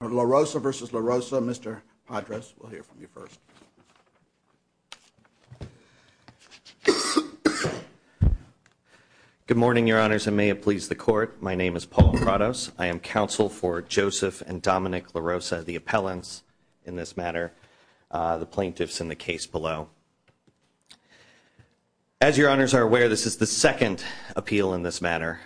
Larosa v. Larosa, Mr. Padres, we'll hear from you first. Good morning, your honors, and may it please the court. My name is Paul Prados. I am counsel for Joseph and Dominic Larosa, the appellants in this matter, the plaintiffs in the case below. As your honors are aware, this is the second appeal in this matter.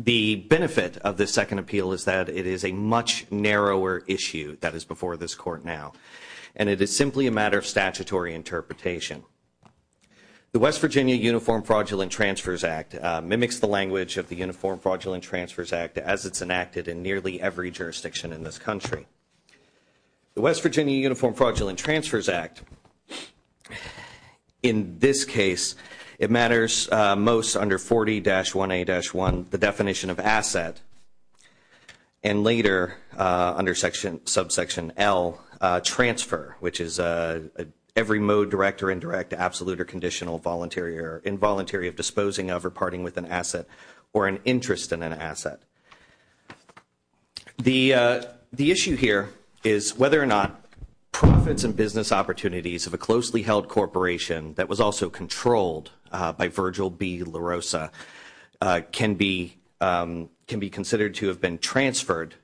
The benefit of the second appeal is that it is a much narrower issue that is before this court now, and it is simply a matter of statutory interpretation. The West Virginia Uniform Fraudulent Transfers Act mimics the language of the Uniform Fraudulent Transfers Act as it's enacted in nearly every jurisdiction in this country. The West Virginia Uniform Fraudulent Transfers Act, in this case, it matters most under 40-1A-1, the definition of asset, and later under subsection L, transfer, which is every mode, direct or indirect, absolute or conditional, voluntary or involuntary of disposing of or parting with an asset or an interest in an asset. The issue here is whether or not profits and business opportunities of a closely held corporation that was also controlled by Virgil B. Larosa can be considered to have been transferred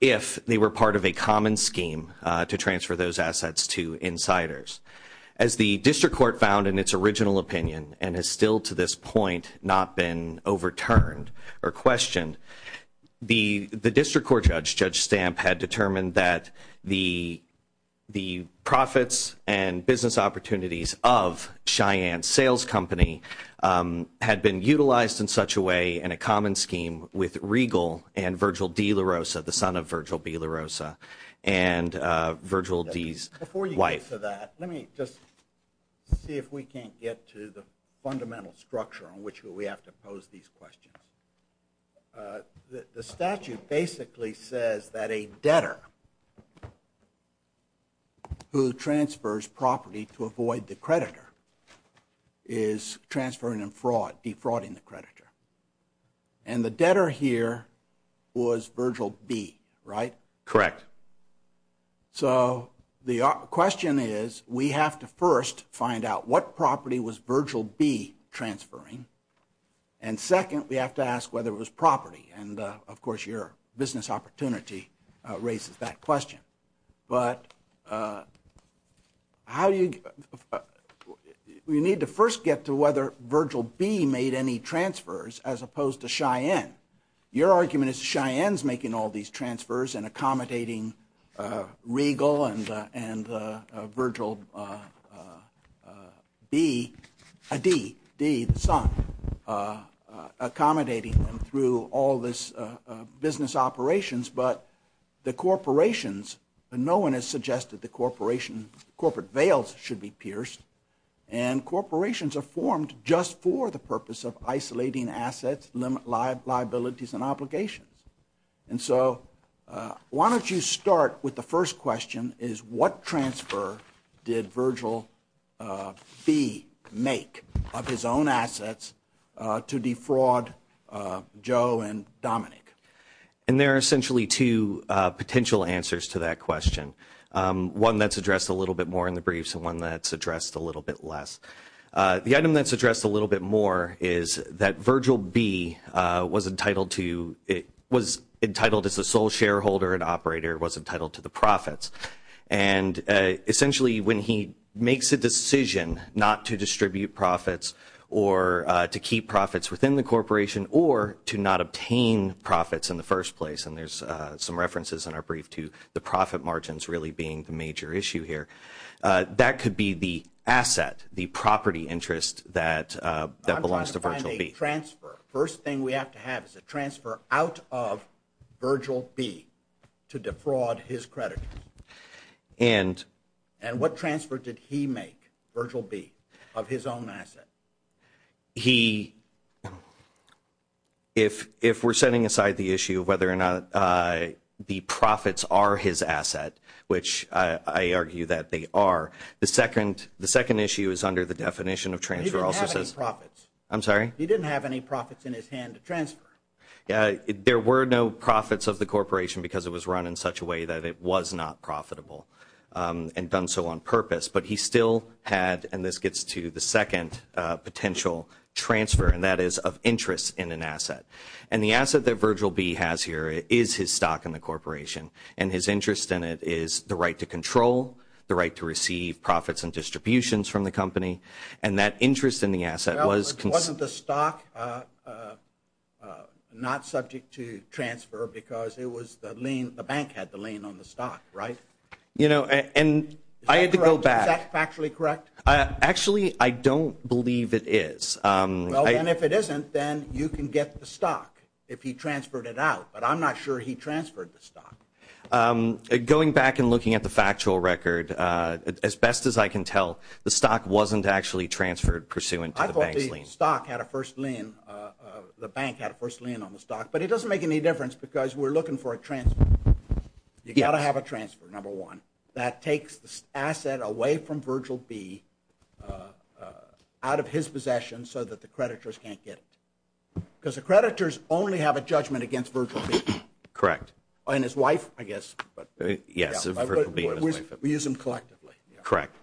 if they were part of a common scheme to transfer those assets to insiders. As the district court found in its original opinion, and has still to this point not been overturned or questioned, the district court judge, Judge Stamp, had determined that the profits and business opportunities of Cheyenne Sales Company had been utilized in such a way in a common scheme with Regal and Virgil D. Larosa, the son of Virgil B. Larosa, and Virgil D.'s wife. Before you get to that, let me just see if we can't get to the fundamental structure on which we have to pose these questions. The statute basically says that a debtor who transfers property to avoid the creditor is transferring a fraud, defrauding the creditor. And the debtor here was Virgil B., right? Correct. So the question is, we have to first find out what property was Virgil B. transferring. And second, we have to ask whether it was property. And, of course, your business opportunity raises that question. But how do you – we need to first get to whether Virgil B. made any transfers as opposed to Cheyenne. Your argument is Cheyenne's making all these transfers and accommodating Regal and Virgil D., the son, accommodating them through all this business operations. But the corporations – no one has suggested the corporation – corporate veils should be pierced. And corporations are formed just for the purpose of isolating assets, limit liabilities and obligations. And so why don't you start with the first question, is what transfer did Virgil B. make of his own assets to defraud Joe and Dominic? And there are essentially two potential answers to that question. One that's addressed a little bit more in the briefs and one that's addressed a little bit less. The item that's addressed a little bit more is that Virgil B. was entitled to – was entitled as the sole shareholder and operator, was entitled to the profits. And essentially when he makes a decision not to distribute profits or to keep profits within the corporation or to not obtain profits in the first place – and there's some references in our brief to the profit margins really being the major issue here – that could be the asset, the property interest that belongs to Virgil B. I'm trying to find a transfer. First thing we have to have is a transfer out of Virgil B. to defraud his creditors. And what transfer did he make, Virgil B., of his own asset? He – if we're setting aside the issue of whether or not the profits are his asset, which I argue that they are, the second issue is under the definition of transfer. He didn't have any profits. I'm sorry? He didn't have any profits in his hand to transfer. There were no profits of the corporation because it was run in such a way that it was not profitable and done so on purpose. But he still had – and this gets to the second potential transfer, and that is of interest in an asset. And the asset that Virgil B. has here is his stock in the corporation. And his interest in it is the right to control, the right to receive profits and distributions from the company. And that interest in the asset was – But wasn't the stock not subject to transfer because it was the lien – the bank had the lien on the stock, right? You know, and I had to go back. Is that correct? Is that factually correct? Actually, I don't believe it is. Well, then, if it isn't, then you can get the stock if he transferred it out. But I'm not sure he transferred the stock. Going back and looking at the factual record, as best as I can tell, the stock wasn't actually transferred pursuant to the bank's lien. I thought the stock had a first lien – the bank had a first lien on the stock. But it doesn't make any difference because we're looking for a transfer. You've got to have a transfer, number one. That takes the asset away from Virgil B. out of his possession so that the creditors can't get it. Because the creditors only have a judgment against Virgil B. Correct. And his wife, I guess. Yes, Virgil B. and his wife. We use them collectively. Correct.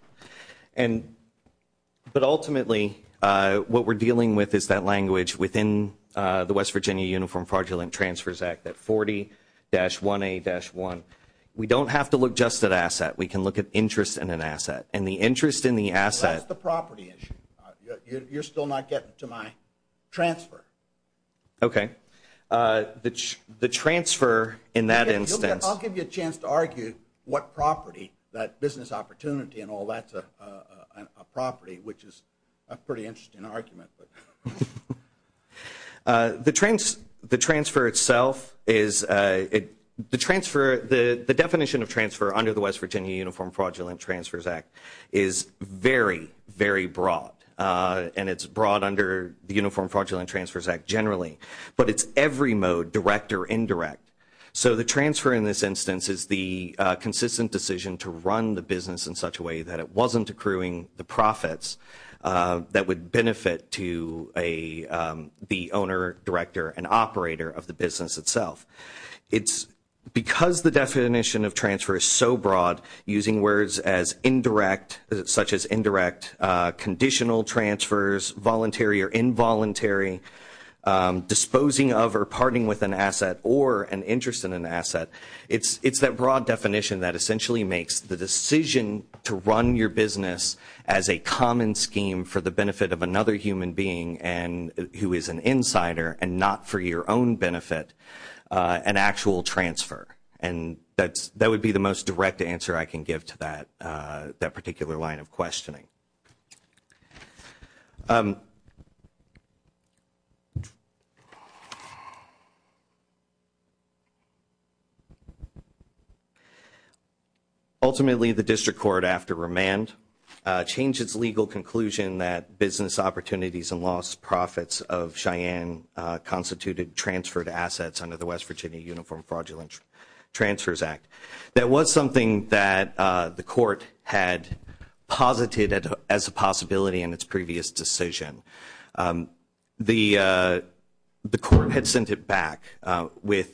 But ultimately, what we're dealing with is that language within the West Virginia Uniform Fraudulent Transfers Act, that 40-1A-1. We don't have to look just at asset. We can look at interest in an asset. And the interest in the asset – Well, that's the property issue. You're still not getting to my transfer. Okay. The transfer in that instance – Well, that's a property, which is a pretty interesting argument. The transfer itself is – the definition of transfer under the West Virginia Uniform Fraudulent Transfers Act is very, very broad. And it's broad under the Uniform Fraudulent Transfers Act generally. But it's every mode, direct or indirect. So the transfer in this instance is the consistent decision to run the business in such a way that it wasn't accruing the profits that would benefit to the owner, director, and operator of the business itself. Because the definition of transfer is so broad, using words such as indirect, conditional transfers, voluntary or involuntary, disposing of or parting with an asset or an interest in an asset, it's that broad definition that essentially makes the decision to run your business as a common scheme for the benefit of another human being who is an insider and not for your own benefit an actual transfer. And that would be the most direct answer I can give to that particular line of questioning. Ultimately, the district court, after remand, changed its legal conclusion that business opportunities and lost profits of Cheyenne constituted transferred assets under the West Virginia Uniform Fraudulent Transfers Act. That was something that the court had posited as a possibility in its previous decision. The court had sent it back with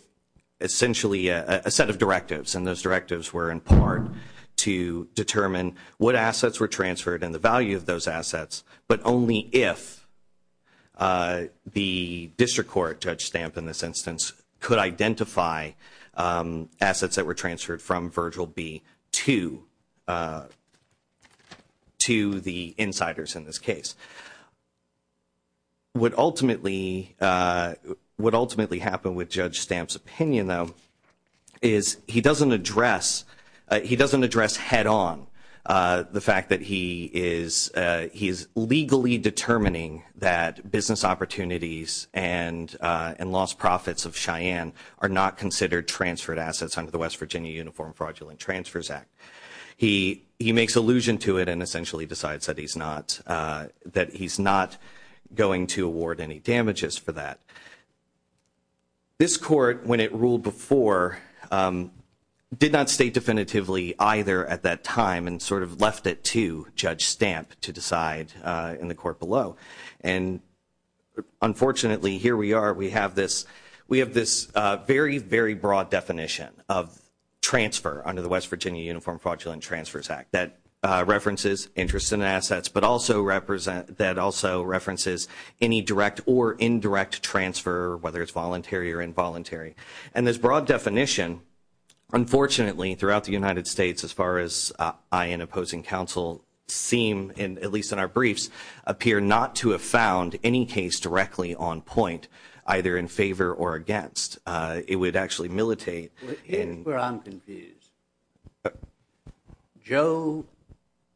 essentially a set of directives, and those directives were in part to determine what assets were transferred and the value of those assets, but only if the district court, Judge Stamp in this instance, could identify assets that were transferred from Virgil B. to the insiders in this case. What ultimately happened with Judge Stamp's opinion, though, is he doesn't address head-on the fact that he is legally determining that business opportunities and lost profits of Cheyenne are not considered transferred assets under the West Virginia Uniform Fraudulent Transfers Act. He makes allusion to it and essentially decides that he's not going to award any damages for that. This court, when it ruled before, did not state definitively either at that time and sort of left it to Judge Stamp to decide in the court below. Unfortunately, here we are. We have this very, very broad definition of transfer under the West Virginia Uniform Fraudulent Transfers Act that references interest in assets, but also references any direct or indirect transfer, whether it's voluntary or involuntary. And this broad definition, unfortunately, throughout the United States as far as I and opposing counsel seem, at least in our briefs, appear not to have found any case directly on point, either in favor or against. It would actually militate. Here's where I'm confused. Joe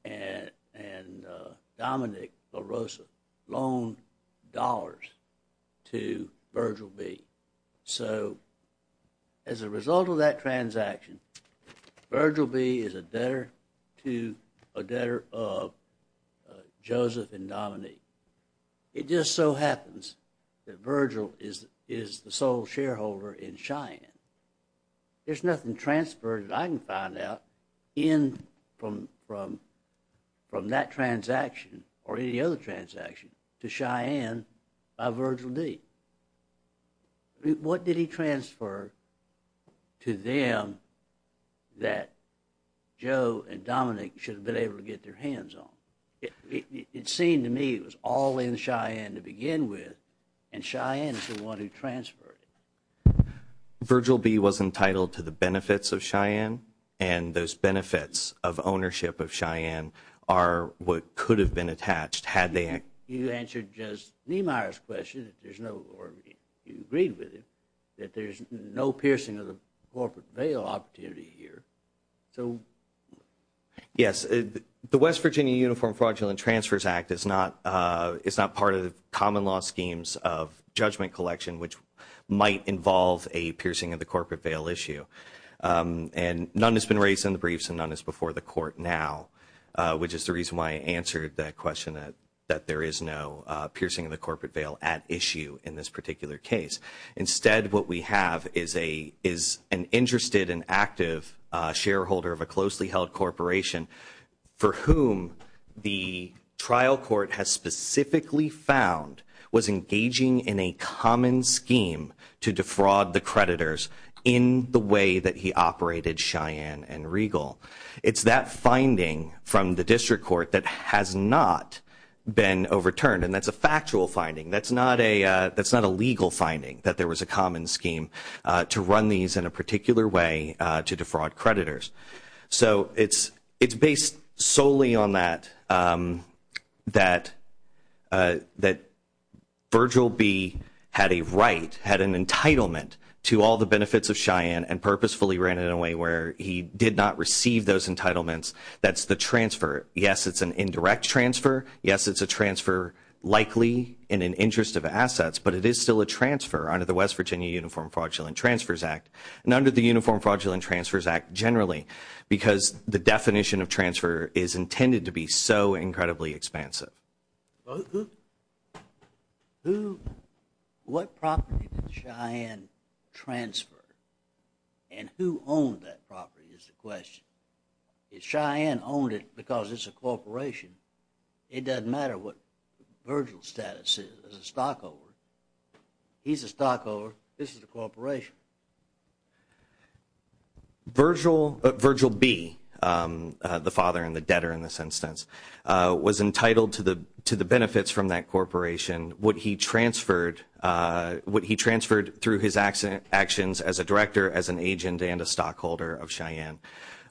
and Dominic LaRosa loaned dollars to Virgil B. So as a result of that transaction, Virgil B. is a debtor to a debtor of Joseph and Dominic. It just so happens that Virgil is the sole shareholder in Cheyenne. There's nothing transferred that I can find out in from that transaction or any other transaction to Cheyenne by Virgil B. What did he transfer to them that Joe and Dominic should have been able to get their hands on? It seemed to me it was all in Cheyenne to begin with, and Cheyenne is the one who transferred it. Virgil B. was entitled to the benefits of Cheyenne, and those benefits of ownership of Cheyenne are what could have been attached had they – You answered just Niemeyer's question, or you agreed with him, that there's no piercing of the corporate bail opportunity here. Yes, the West Virginia Uniform Fraudulent Transfers Act is not part of the common law schemes of judgment collection, which might involve a piercing of the corporate bail issue. And none has been raised in the briefs, and none is before the court now, which is the reason why I answered that question that there is no piercing of the corporate bail at issue in this particular case. Instead, what we have is an interested and active shareholder of a closely held corporation for whom the trial court has specifically found was engaging in a common scheme to defraud the creditors in the way that he operated Cheyenne and Regal. It's that finding from the district court that has not been overturned, and that's a factual finding. That's not a legal finding, that there was a common scheme to run these in a particular way to defraud creditors. So it's based solely on that, that Virgil B. had a right, had an entitlement to all the benefits of Cheyenne and purposefully ran it away where he did not receive those entitlements. That's the transfer. Yes, it's an indirect transfer. Yes, it's a transfer likely in an interest of assets, but it is still a transfer under the West Virginia Uniform Fraudulent Transfers Act and under the Uniform Fraudulent Transfers Act generally, because the definition of transfer is intended to be so incredibly expansive. What property did Cheyenne transfer and who owned that property is the question. If Cheyenne owned it because it's a corporation, it doesn't matter what Virgil's status is as a stockholder. He's a stockholder, this is a corporation. Virgil B., the father and the debtor in this instance, was entitled to the benefits from that corporation. What he transferred through his actions as a director, as an agent and a stockholder of Cheyenne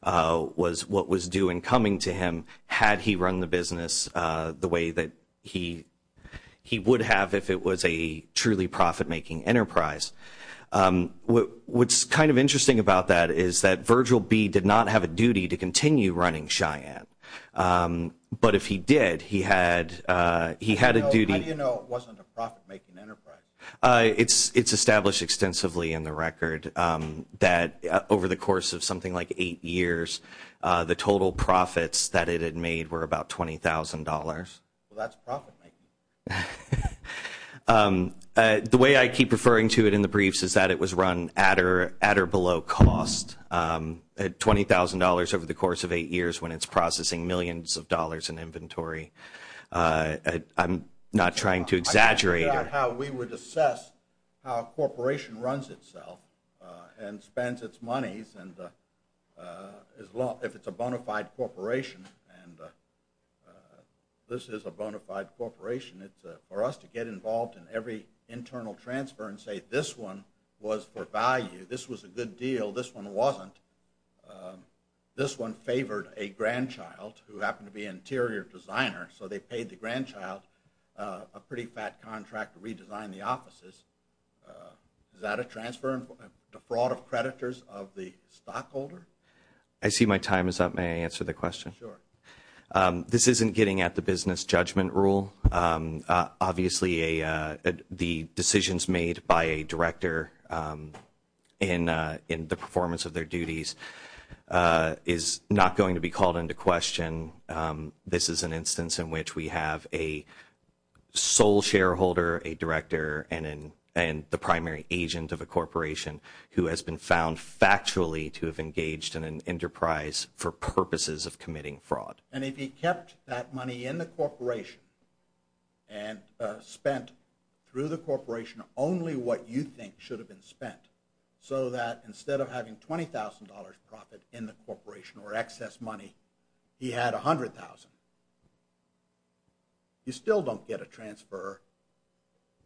was what was due and coming to him had he run the business the way that he would have if it was a truly profit-making enterprise. What's kind of interesting about that is that Virgil B. did not have a duty to continue running Cheyenne, but if he did, he had a duty. How do you know it wasn't a profit-making enterprise? It's established extensively in the record that over the course of something like eight years, the total profits that it had made were about $20,000. Well, that's profit-making. The way I keep referring to it in the briefs is that it was run at or below cost at $20,000 over the course of eight years when it's processing millions of dollars in inventory. I'm not trying to exaggerate. I think about how we would assess how a corporation runs itself and spends its monies and if it's a bona fide corporation, and this is a bona fide corporation, for us to get involved in every internal transfer and say, this one was for value, this was a good deal, this one wasn't, this one favored a grandchild who happened to be an interior designer, so they paid the grandchild a pretty fat contract to redesign the offices, is that a transfer and defraud of creditors of the stockholder? I see my time is up. May I answer the question? Sure. This isn't getting at the business judgment rule. Obviously, the decisions made by a director in the performance of their duties is not going to be called into question. This is an instance in which we have a sole shareholder, a director, and the primary agent of a corporation who has been found factually to have engaged in an enterprise for purposes of committing fraud. And if he kept that money in the corporation and spent through the corporation only what you think should have been spent, so that instead of having $20,000 profit in the corporation or excess money, he had $100,000, you still don't get a transfer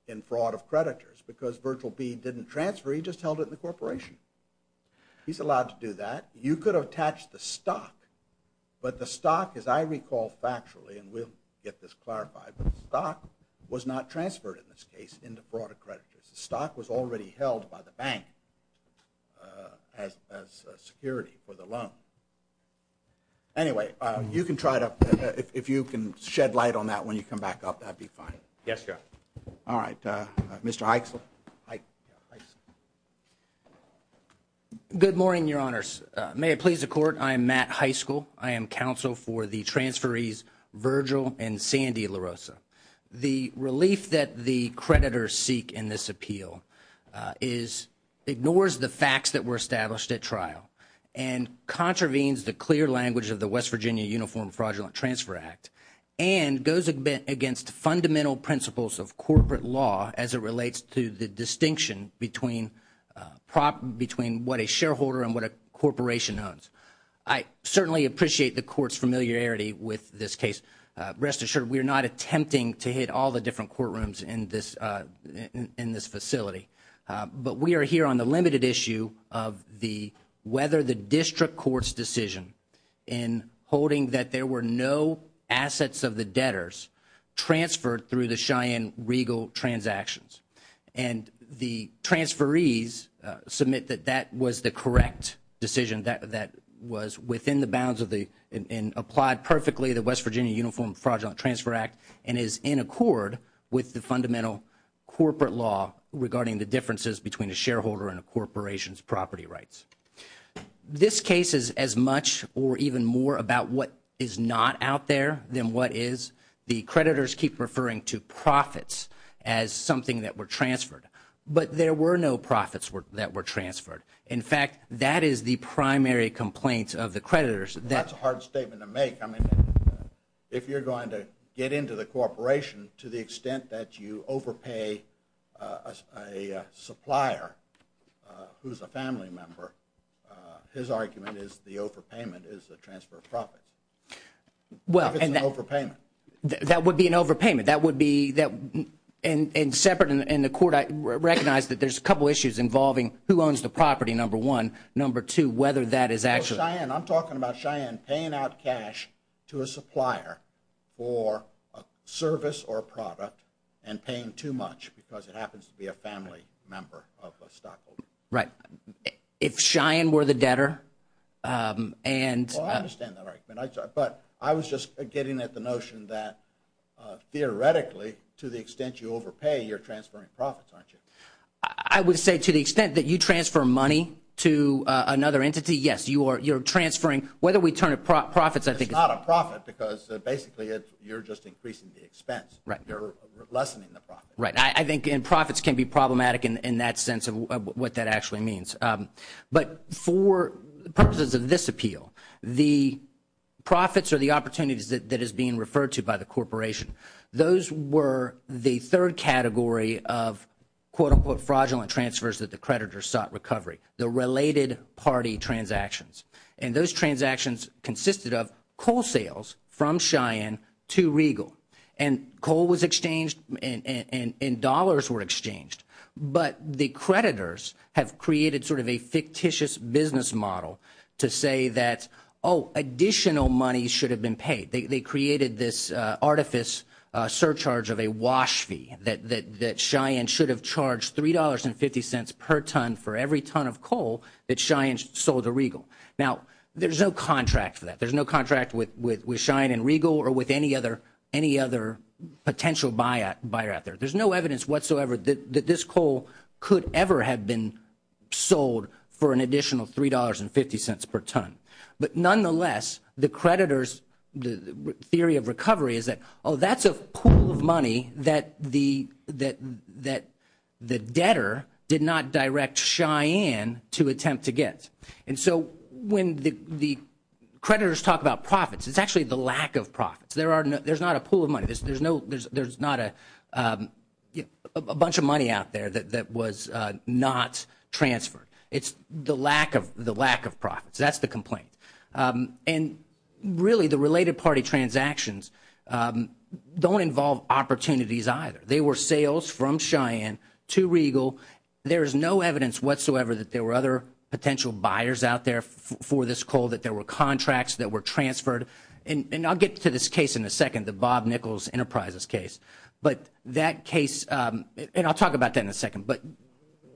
in fraud of creditors because Virtual B didn't transfer, he just held it in the corporation. He's allowed to do that. You could have attached the stock, but the stock, as I recall factually, and we'll get this clarified, but the stock was not transferred in this case into fraud of creditors. The stock was already held by the bank as security for the loan. Anyway, you can try it up. If you can shed light on that when you come back up, that would be fine. Yes, sir. All right. Mr. Heitzel. Good morning, Your Honors. May it please the Court, I am Matt Heitzel. I am counsel for the transferees Virgil and Sandy LaRosa. The relief that the creditors seek in this appeal ignores the facts that were established at trial. And contravenes the clear language of the West Virginia Uniform Fraudulent Transfer Act and goes against fundamental principles of corporate law as it relates to the distinction between what a shareholder and what a corporation owns. I certainly appreciate the Court's familiarity with this case. Rest assured, we are not attempting to hit all the different courtrooms in this facility. But we are here on the limited issue of whether the district court's decision in holding that there were no assets of the debtors transferred through the Cheyenne regal transactions. And the transferees submit that that was the correct decision, that was within the bounds of the and applied perfectly the West Virginia Uniform Fraudulent Transfer Act and is in accord with the fundamental corporate law regarding the differences between a shareholder and a corporation's property rights. This case is as much or even more about what is not out there than what is. The creditors keep referring to profits as something that were transferred. But there were no profits that were transferred. In fact, that is the primary complaint of the creditors. That's a hard statement to make. If you're going to get into the corporation to the extent that you overpay a supplier who's a family member, his argument is the overpayment is the transfer of profits. If it's an overpayment. That would be an overpayment. And separate in the court, I recognize that there's a couple issues involving who owns the property, number one. Number two, whether that is actually I'm talking about Cheyenne paying out cash to a supplier for a service or a product and paying too much because it happens to be a family member of a stockholder. Right. If Cheyenne were the debtor and I understand that. But I was just getting at the notion that theoretically, to the extent you overpay, you're transferring profits, aren't you? I would say to the extent that you transfer money to another entity, yes, you're transferring whether we turn it profits. It's not a profit because basically you're just increasing the expense. You're lessening the profit. I think profits can be problematic in that sense of what that actually means. But for purposes of this appeal, the profits or the opportunities that is being referred to by the corporation, those were the third category of, quote, unquote, fraudulent transfers that the creditors sought recovery. The related party transactions. And those transactions consisted of coal sales from Cheyenne to Regal. And coal was exchanged and dollars were exchanged. But the creditors have created sort of a fictitious business model to say that, oh, additional money should have been paid. They created this artifice surcharge of a wash fee that Cheyenne should have charged $3.50 per ton for every ton of coal that Cheyenne sold to Regal. Now, there's no contract for that. There's no contract with Cheyenne and Regal or with any other potential buyer out there. There's no evidence whatsoever that this coal could ever have been sold for an additional $3.50 per ton. But nonetheless, the creditors' theory of recovery is that, oh, that's a pool of money that the debtor did not direct Cheyenne to attempt to get. And so when the creditors talk about profits, it's actually the lack of profits. There's not a pool of money. There's not a bunch of money out there that was not transferred. It's the lack of profits. That's the complaint. And really, the related party transactions don't involve opportunities either. They were sales from Cheyenne to Regal. There is no evidence whatsoever that there were other potential buyers out there for this coal, that there were contracts that were transferred. And I'll get to this case in a second, the Bob Nichols Enterprises case. But that case, and I'll talk about that in a second, but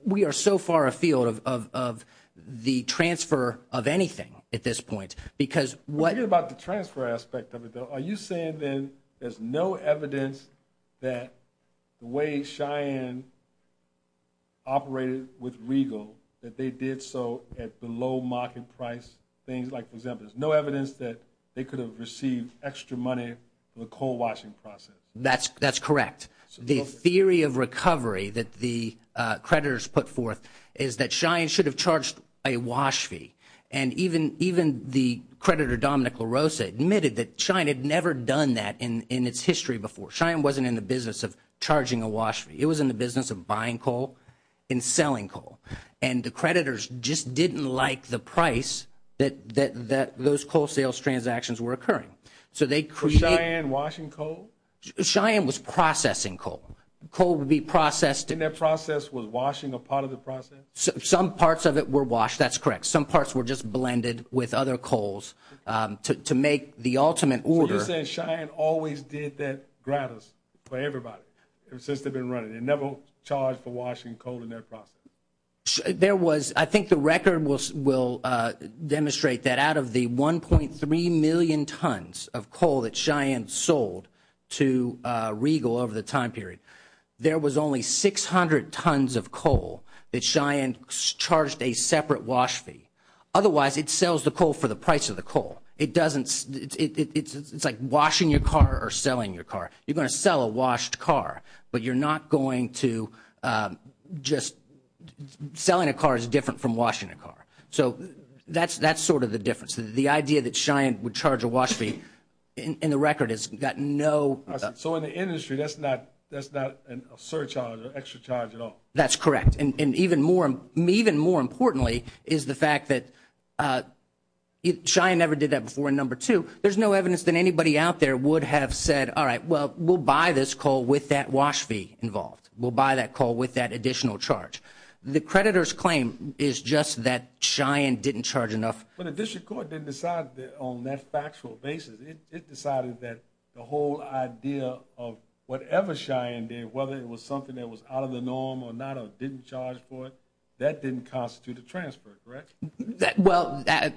we are so far afield of the transfer of anything at this point because what — I'm thinking about the transfer aspect of it, though. Are you saying then there's no evidence that the way Cheyenne operated with Regal, that they did so at the low market price? Things like, for example, there's no evidence that they could have received extra money from the coal washing process. That's correct. The theory of recovery that the creditors put forth is that Cheyenne should have charged a wash fee. And even the creditor, Dominic LaRosa, admitted that Cheyenne had never done that in its history before. Cheyenne wasn't in the business of charging a wash fee. It was in the business of buying coal and selling coal. And the creditors just didn't like the price that those coal sales transactions were occurring. So Cheyenne washing coal? Cheyenne was processing coal. Coal would be processed. And that process was washing a part of the process? Some parts of it were washed. That's correct. Some parts were just blended with other coals to make the ultimate order. So you're saying Cheyenne always did that gratis for everybody since they've been running? They never charged for washing coal in their process? I think the record will demonstrate that out of the 1.3 million tons of coal that Cheyenne sold to Regal over the time period, there was only 600 tons of coal that Cheyenne charged a separate wash fee. Otherwise, it sells the coal for the price of the coal. It's like washing your car or selling your car. You're going to sell a washed car, but you're not going to just – selling a car is different from washing a car. So that's sort of the difference. The idea that Cheyenne would charge a wash fee in the record has got no – So in the industry, that's not a surcharge or extra charge at all? That's correct. And even more importantly is the fact that Cheyenne never did that before in number two. There's no evidence that anybody out there would have said, all right, well, we'll buy this coal with that wash fee involved. We'll buy that coal with that additional charge. The creditor's claim is just that Cheyenne didn't charge enough. But the district court didn't decide on that factual basis. It decided that the whole idea of whatever Cheyenne did, whether it was something that was out of the norm or not or didn't charge for it, that didn't constitute a transfer, correct? Well, that's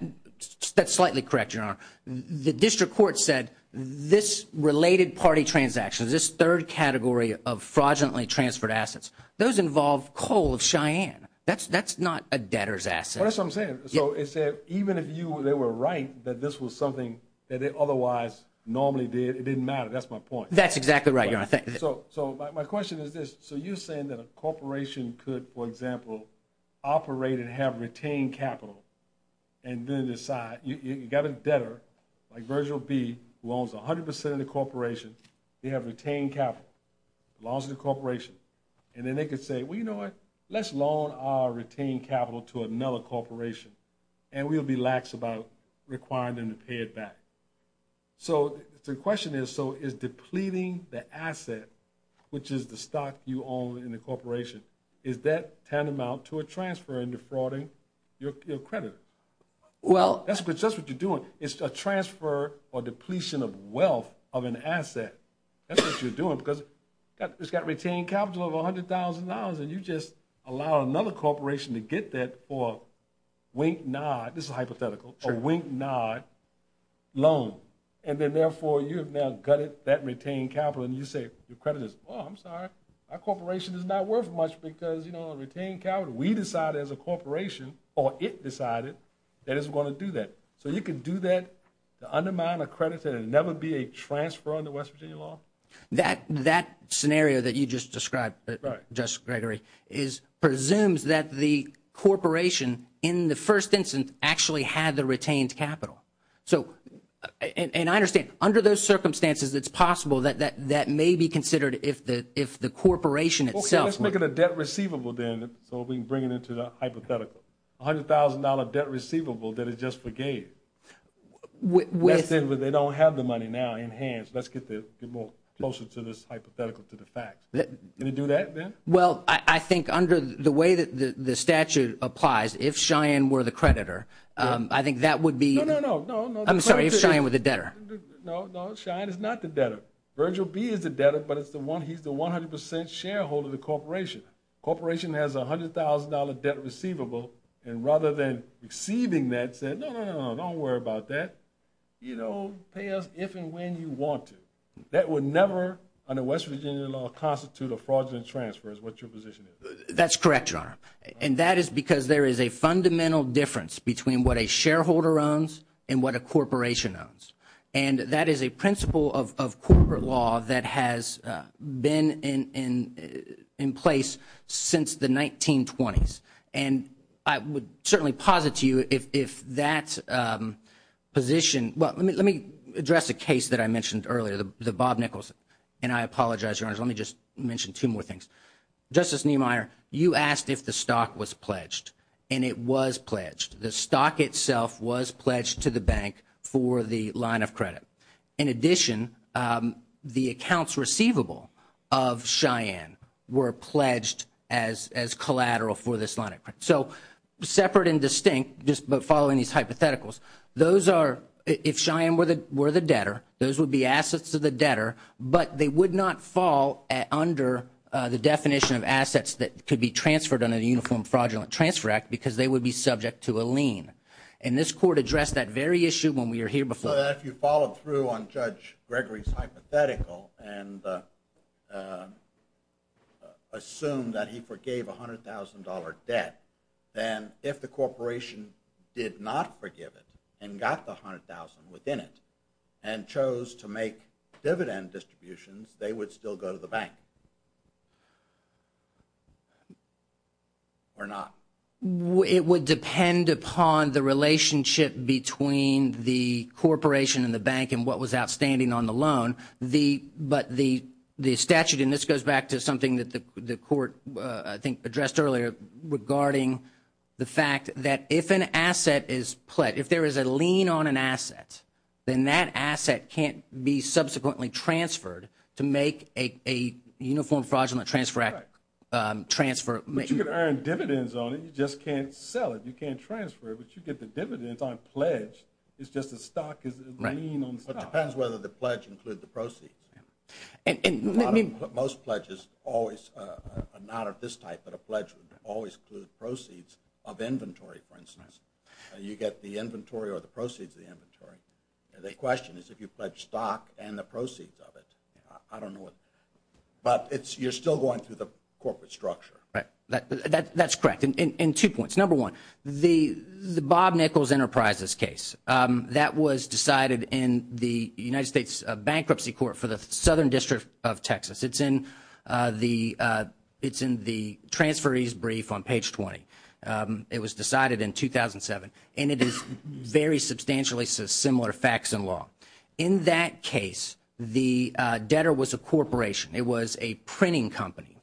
slightly correct, Your Honor. The district court said this related party transaction, this third category of fraudulently transferred assets, those involve coal of Cheyenne. That's not a debtor's asset. That's what I'm saying. So it said even if they were right that this was something that they otherwise normally did, it didn't matter. That's my point. That's exactly right, Your Honor. So my question is this. So you're saying that a corporation could, for example, operate and have retained capital and then decide. You've got a debtor, like Virgil B., who owns 100% of the corporation. They have retained capital, belongs to the corporation. And then they could say, well, you know what? Let's loan our retained capital to another corporation, and we'll be lax about requiring them to pay it back. So the question is, so is depleting the asset, which is the stock you own in the corporation, is that tantamount to a transfer and defrauding your credit? Well. That's just what you're doing. It's a transfer or depletion of wealth of an asset. That's what you're doing because it's got retained capital of $100,000, and you just allow another corporation to get that for wink, nod. This is hypothetical. A wink, nod loan. And then, therefore, you have now gutted that retained capital. And you say, your creditor says, oh, I'm sorry. Our corporation is not worth much because, you know, retained capital. We decide as a corporation, or it decided, that it's going to do that. So you can do that to undermine a creditor and never be a transfer under West Virginia law? That scenario that you just described, Judge Gregory, presumes that the corporation, in the first instance, actually had the retained capital. So, and I understand, under those circumstances, it's possible that that may be considered if the corporation itself. Well, let's make it a debt receivable, then, so we can bring it into the hypothetical. $100,000 debt receivable that it just forgave. That's it, but they don't have the money now in hand. So let's get more closer to this hypothetical, to the fact. Can you do that, then? Well, I think under the way that the statute applies, if Cheyenne were the creditor, I think that would be... No, no, no. I'm sorry, if Cheyenne were the debtor. No, no, Cheyenne is not the debtor. Virgil B. is the debtor, but he's the 100% shareholder of the corporation. Corporation has a $100,000 debt receivable, and rather than receiving that, said, no, no, no, don't worry about that. You know, pay us if and when you want to. That would never, under West Virginia law, constitute a fraudulent transfer, is what your position is. That's correct, Your Honor. And that is because there is a fundamental difference between what a shareholder owns and what a corporation owns. And that is a principle of corporate law that has been in place since the 1920s. And I would certainly posit to you if that position... Well, let me address a case that I mentioned earlier, the Bob Nichols. And I apologize, Your Honors, let me just mention two more things. Justice Niemeyer, you asked if the stock was pledged, and it was pledged. The stock itself was pledged to the bank for the line of credit. In addition, the accounts receivable of Cheyenne were pledged as collateral for this line of credit. So separate and distinct, just following these hypotheticals, those are, if Cheyenne were the debtor, those would be assets to the debtor, but they would not fall under the definition of assets that could be transferred under the Uniform Fraudulent Transfer Act because they would be subject to a lien. And this Court addressed that very issue when we were here before. So if you followed through on Judge Gregory's hypothetical and assumed that he forgave a $100,000 debt, then if the corporation did not forgive it and got the $100,000 within it and chose to make dividend distributions, they would still go to the bank, or not? It would depend upon the relationship between the corporation and the bank and what was outstanding on the loan. But the statute, and this goes back to something that the Court, I think, addressed earlier regarding the fact that if an asset is pledged, if there is a lien on an asset, then that asset can't be subsequently transferred to make a Uniform Fraudulent Transfer Act transfer. But you could earn dividends on it. You just can't sell it. You can't transfer it, but you get the dividends on a pledge. It's just the stock is a lien on the stock. It depends whether the pledge includes the proceeds. Most pledges always are not of this type, but a pledge would always include proceeds of inventory, for instance. You get the inventory or the proceeds of the inventory. The question is if you pledge stock and the proceeds of it. I don't know. But you're still going through the corporate structure. Right. That's correct. And two points. Number one, the Bob Nichols Enterprises case, that was decided in the United States Bankruptcy Court for the Southern District of Texas. It's in the transferee's brief on page 20. It was decided in 2007, and it is very substantially similar facts and law. In that case, the debtor was a corporation. It was a printing company.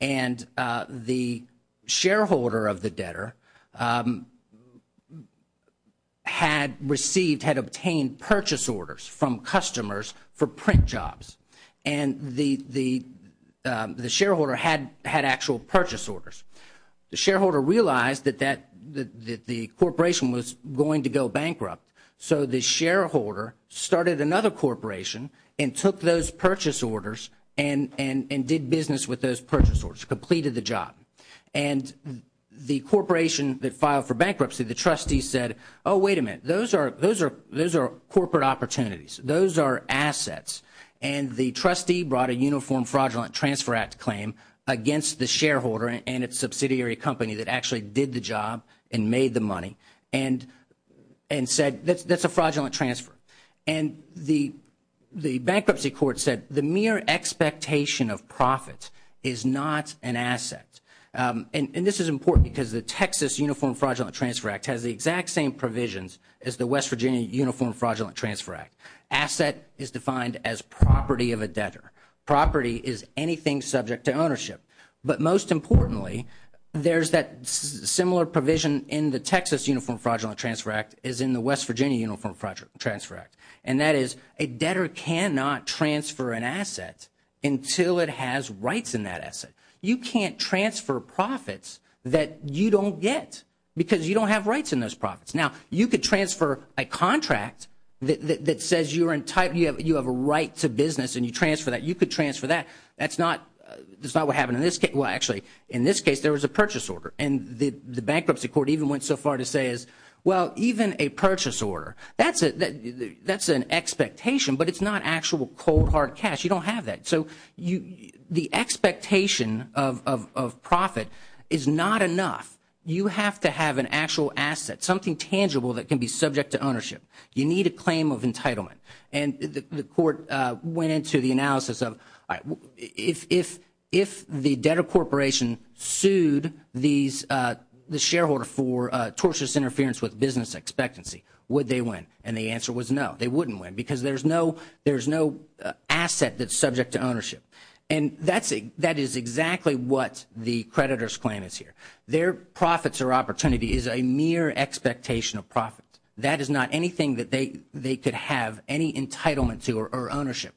And the shareholder of the debtor had received, had obtained purchase orders from customers for print jobs. And the shareholder had actual purchase orders. The shareholder realized that the corporation was going to go bankrupt, so the shareholder started another corporation and took those purchase orders and did business with those purchase orders, completed the job. And the corporation that filed for bankruptcy, the trustee said, oh, wait a minute, those are corporate opportunities. Those are assets. And the trustee brought a Uniform Fraudulent Transfer Act claim against the shareholder, and its subsidiary company that actually did the job and made the money, and said that's a fraudulent transfer. And the bankruptcy court said the mere expectation of profit is not an asset. And this is important because the Texas Uniform Fraudulent Transfer Act has the exact same provisions as the West Virginia Uniform Fraudulent Transfer Act. Asset is defined as property of a debtor. Property is anything subject to ownership. But most importantly, there's that similar provision in the Texas Uniform Fraudulent Transfer Act as in the West Virginia Uniform Fraudulent Transfer Act. And that is a debtor cannot transfer an asset until it has rights in that asset. You can't transfer profits that you don't get because you don't have rights in those profits. Now, you could transfer a contract that says you have a right to business and you transfer that. You could transfer that. That's not what happened in this case. Well, actually, in this case, there was a purchase order. And the bankruptcy court even went so far to say, well, even a purchase order, that's an expectation, but it's not actual cold, hard cash. You don't have that. So the expectation of profit is not enough. You have to have an actual asset, something tangible that can be subject to ownership. You need a claim of entitlement. And the court went into the analysis of if the debtor corporation sued the shareholder for torturous interference with business expectancy, would they win? And the answer was no, they wouldn't win because there's no asset that's subject to ownership. And that is exactly what the creditor's claim is here. Their profits or opportunity is a mere expectation of profit. That is not anything that they could have any entitlement to or ownership.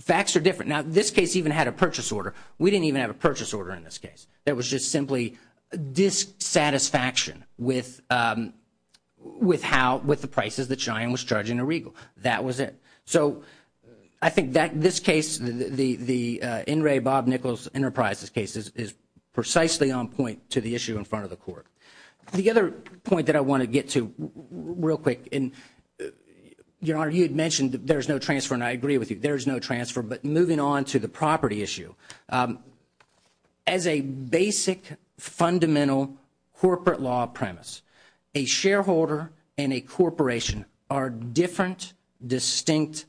Facts are different. Now, this case even had a purchase order. We didn't even have a purchase order in this case. It was just simply dissatisfaction with the prices that Cheyenne was charging to Regal. That was it. So I think that this case, the N. Ray Bob Nichols Enterprises case, is precisely on point to the issue in front of the court. The other point that I want to get to real quick, and, Your Honor, you had mentioned that there is no transfer, and I agree with you. There is no transfer. But moving on to the property issue, as a basic fundamental corporate law premise, a shareholder and a corporation are different, distinct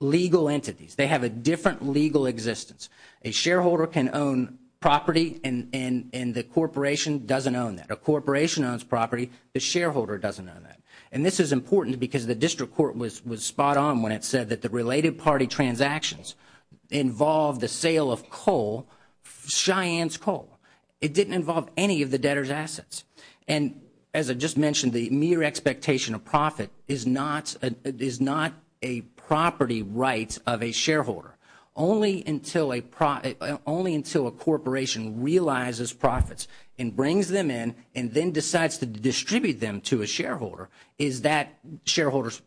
legal entities. They have a different legal existence. A shareholder can own property, and the corporation doesn't own that. A corporation owns property. The shareholder doesn't own that. And this is important because the district court was spot on when it said that the related party transactions involved the sale of coal, Cheyenne's coal. It didn't involve any of the debtor's assets. And as I just mentioned, the mere expectation of profit is not a property right of a shareholder. Only until a corporation realizes profits and brings them in and then decides to distribute them to a shareholder is that shareholder's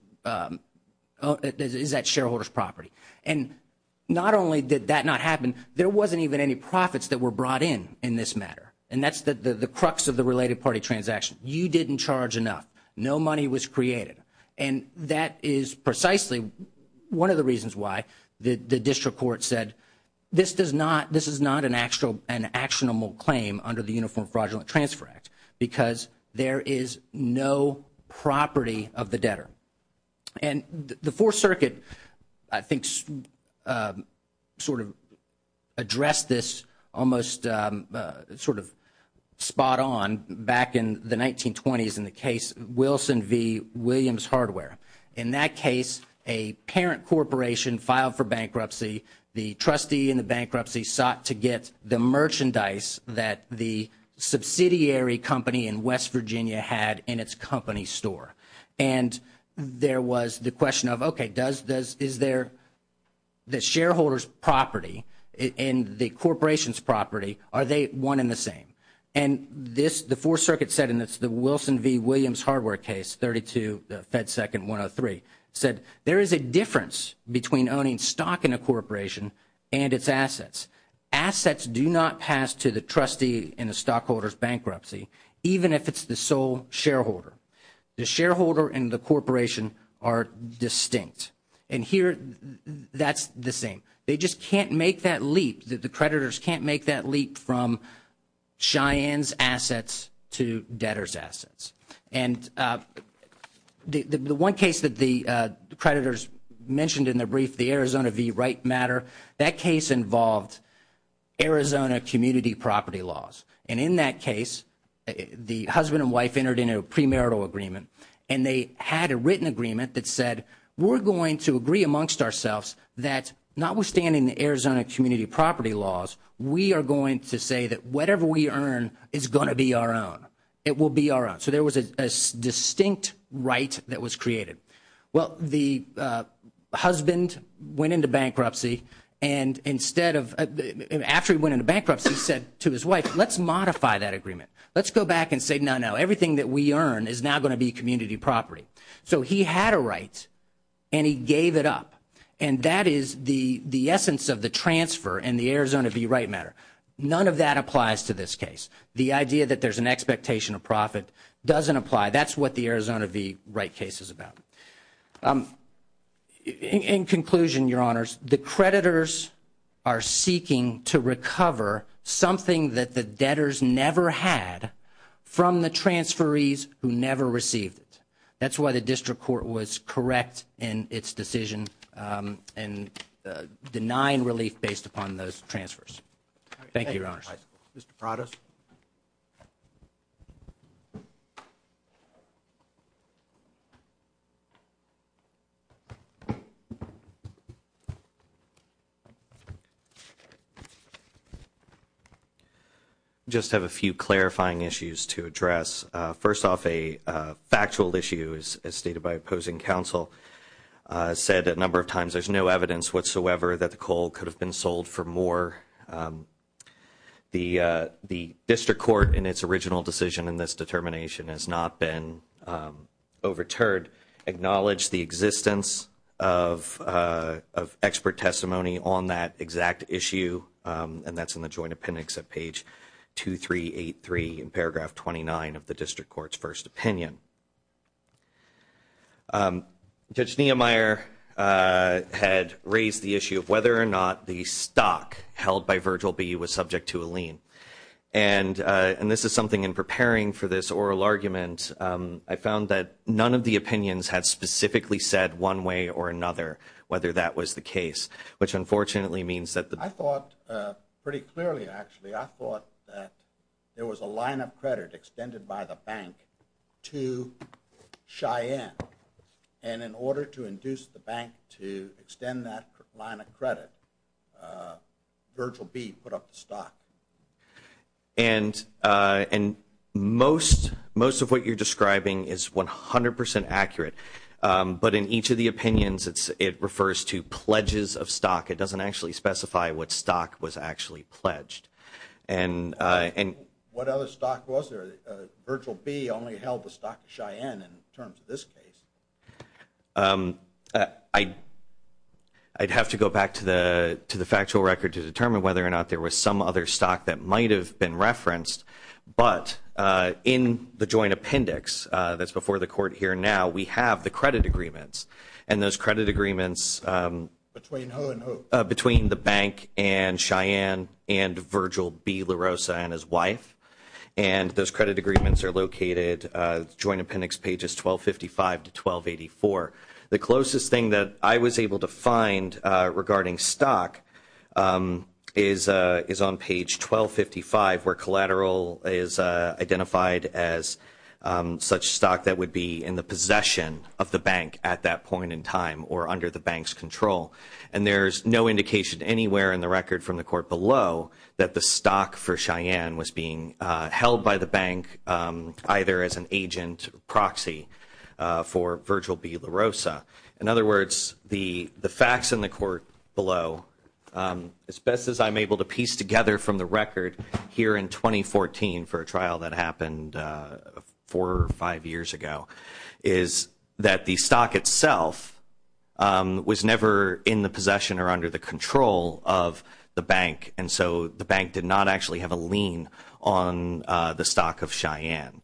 property. And not only did that not happen, there wasn't even any profits that were brought in in this matter. And that's the crux of the related party transaction. You didn't charge enough. No money was created. And that is precisely one of the reasons why the district court said this is not an actionable claim under the Uniform Fraudulent Transfer Act because there is no property of the debtor. And the Fourth Circuit, I think, sort of addressed this almost sort of spot on back in the 1920s in the case Wilson v. Williams Hardware. In that case, a parent corporation filed for bankruptcy. The trustee in the bankruptcy sought to get the merchandise that the subsidiary company in West Virginia had in its company store. And there was the question of, okay, is the shareholder's property and the corporation's property, are they one and the same? And the Fourth Circuit said, and it's the Wilson v. Williams Hardware case, 32, Fed Second 103, said there is a difference between owning stock in a corporation and its assets. Assets do not pass to the trustee in a stockholder's bankruptcy, even if it's the sole shareholder. The shareholder and the corporation are distinct. And here, that's the same. They just can't make that leap. The creditors can't make that leap from Cheyenne's assets to debtor's assets. And the one case that the creditors mentioned in their brief, the Arizona v. Wright matter, that case involved Arizona community property laws. And in that case, the husband and wife entered into a premarital agreement, and they had a written agreement that said, we're going to agree amongst ourselves that notwithstanding the Arizona community property laws, we are going to say that whatever we earn is going to be our own. It will be our own. So there was a distinct right that was created. Well, the husband went into bankruptcy, and after he went into bankruptcy, said to his wife, let's modify that agreement. Let's go back and say, no, no, everything that we earn is now going to be community property. So he had a right, and he gave it up. And that is the essence of the transfer and the Arizona v. Wright matter. None of that applies to this case. The idea that there's an expectation of profit doesn't apply. That's what the Arizona v. Wright case is about. In conclusion, Your Honors, the creditors are seeking to recover something that the debtors never had from the transferees who never received it. That's why the district court was correct in its decision in denying relief based upon those transfers. Thank you, Your Honors. Mr. Prados? I just have a few clarifying issues to address. First off, a factual issue, as stated by opposing counsel, said a number of times there's no evidence whatsoever that the coal could have been sold for more. The district court, in its original decision in this determination, has not been overturned. The district court acknowledged the existence of expert testimony on that exact issue, and that's in the joint appendix at page 2383 in paragraph 29 of the district court's first opinion. Judge Niemeyer had raised the issue of whether or not the stock held by Virgil B. was subject to a lien. And this is something in preparing for this oral argument. I found that none of the opinions had specifically said one way or another whether that was the case, which unfortunately means that the – I thought pretty clearly, actually. I thought that there was a line of credit extended by the bank to Cheyenne, and in order to induce the bank to extend that line of credit, Virgil B. put up the stock. And most of what you're describing is 100 percent accurate, but in each of the opinions it refers to pledges of stock. It doesn't actually specify what stock was actually pledged. And – What other stock was there? Virgil B. only held the stock of Cheyenne in terms of this case. I'd have to go back to the factual record to determine whether or not there was some other stock that might have been referenced, but in the joint appendix that's before the court here now, we have the credit agreements, and those credit agreements – between the bank and Cheyenne and Virgil B. La Rosa and his wife, and those credit agreements are located – joint appendix pages 1255 to 1284. The closest thing that I was able to find regarding stock is on page 1255, where collateral is identified as such stock that would be in the possession of the bank at that point in time or under the bank's control. And there's no indication anywhere in the record from the court below that the stock for Cheyenne was being held by the bank, either as an agent or proxy for Virgil B. La Rosa. In other words, the facts in the court below, as best as I'm able to piece together from the record, here in 2014 for a trial that happened four or five years ago, is that the stock itself was never in the possession or under the control of the bank, and so the bank did not actually have a lien on the stock of Cheyenne.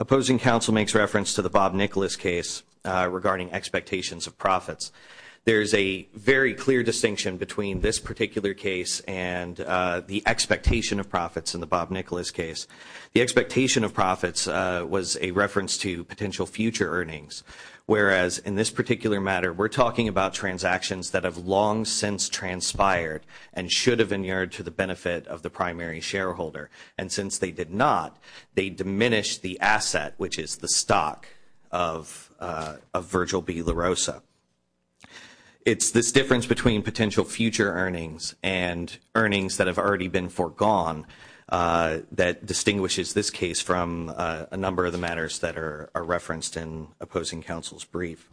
Opposing counsel makes reference to the Bob Nicholas case regarding expectations of profits. There's a very clear distinction between this particular case and the expectation of profits in the Bob Nicholas case. The expectation of profits was a reference to potential future earnings, whereas in this particular matter we're talking about transactions that have long since transpired and should have been yielded to the benefit of the primary shareholder. And since they did not, they diminished the asset, which is the stock of Virgil B. La Rosa. It's this difference between potential future earnings and earnings that have already been foregone that distinguishes this case from a number of the matters that are referenced in opposing counsel's brief.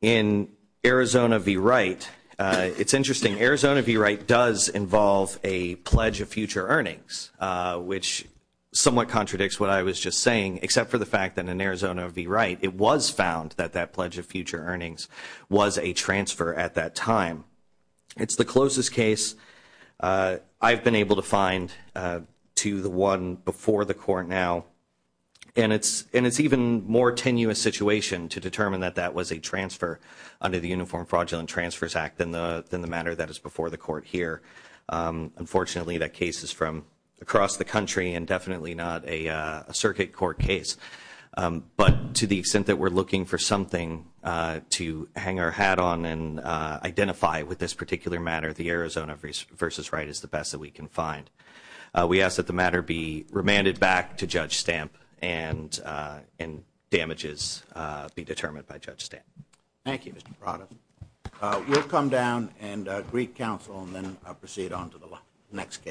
In Arizona v. Wright, it's interesting. Arizona v. Wright does involve a pledge of future earnings, which somewhat contradicts what I was just saying, except for the fact that in Arizona v. Wright, it was found that that pledge of future earnings was a transfer at that time. It's the closest case I've been able to find to the one before the court now, and it's an even more tenuous situation to determine that that was a transfer under the Uniform Fraudulent Transfers Act than the matter that is before the court here. Unfortunately, that case is from across the country and definitely not a circuit court case. But to the extent that we're looking for something to hang our hat on and identify with this particular matter, the Arizona v. Wright is the best that we can find. We ask that the matter be remanded back to Judge Stamp and damages be determined by Judge Stamp. Thank you, Mr. Prado. We'll come down and greet counsel and then proceed on to the next case.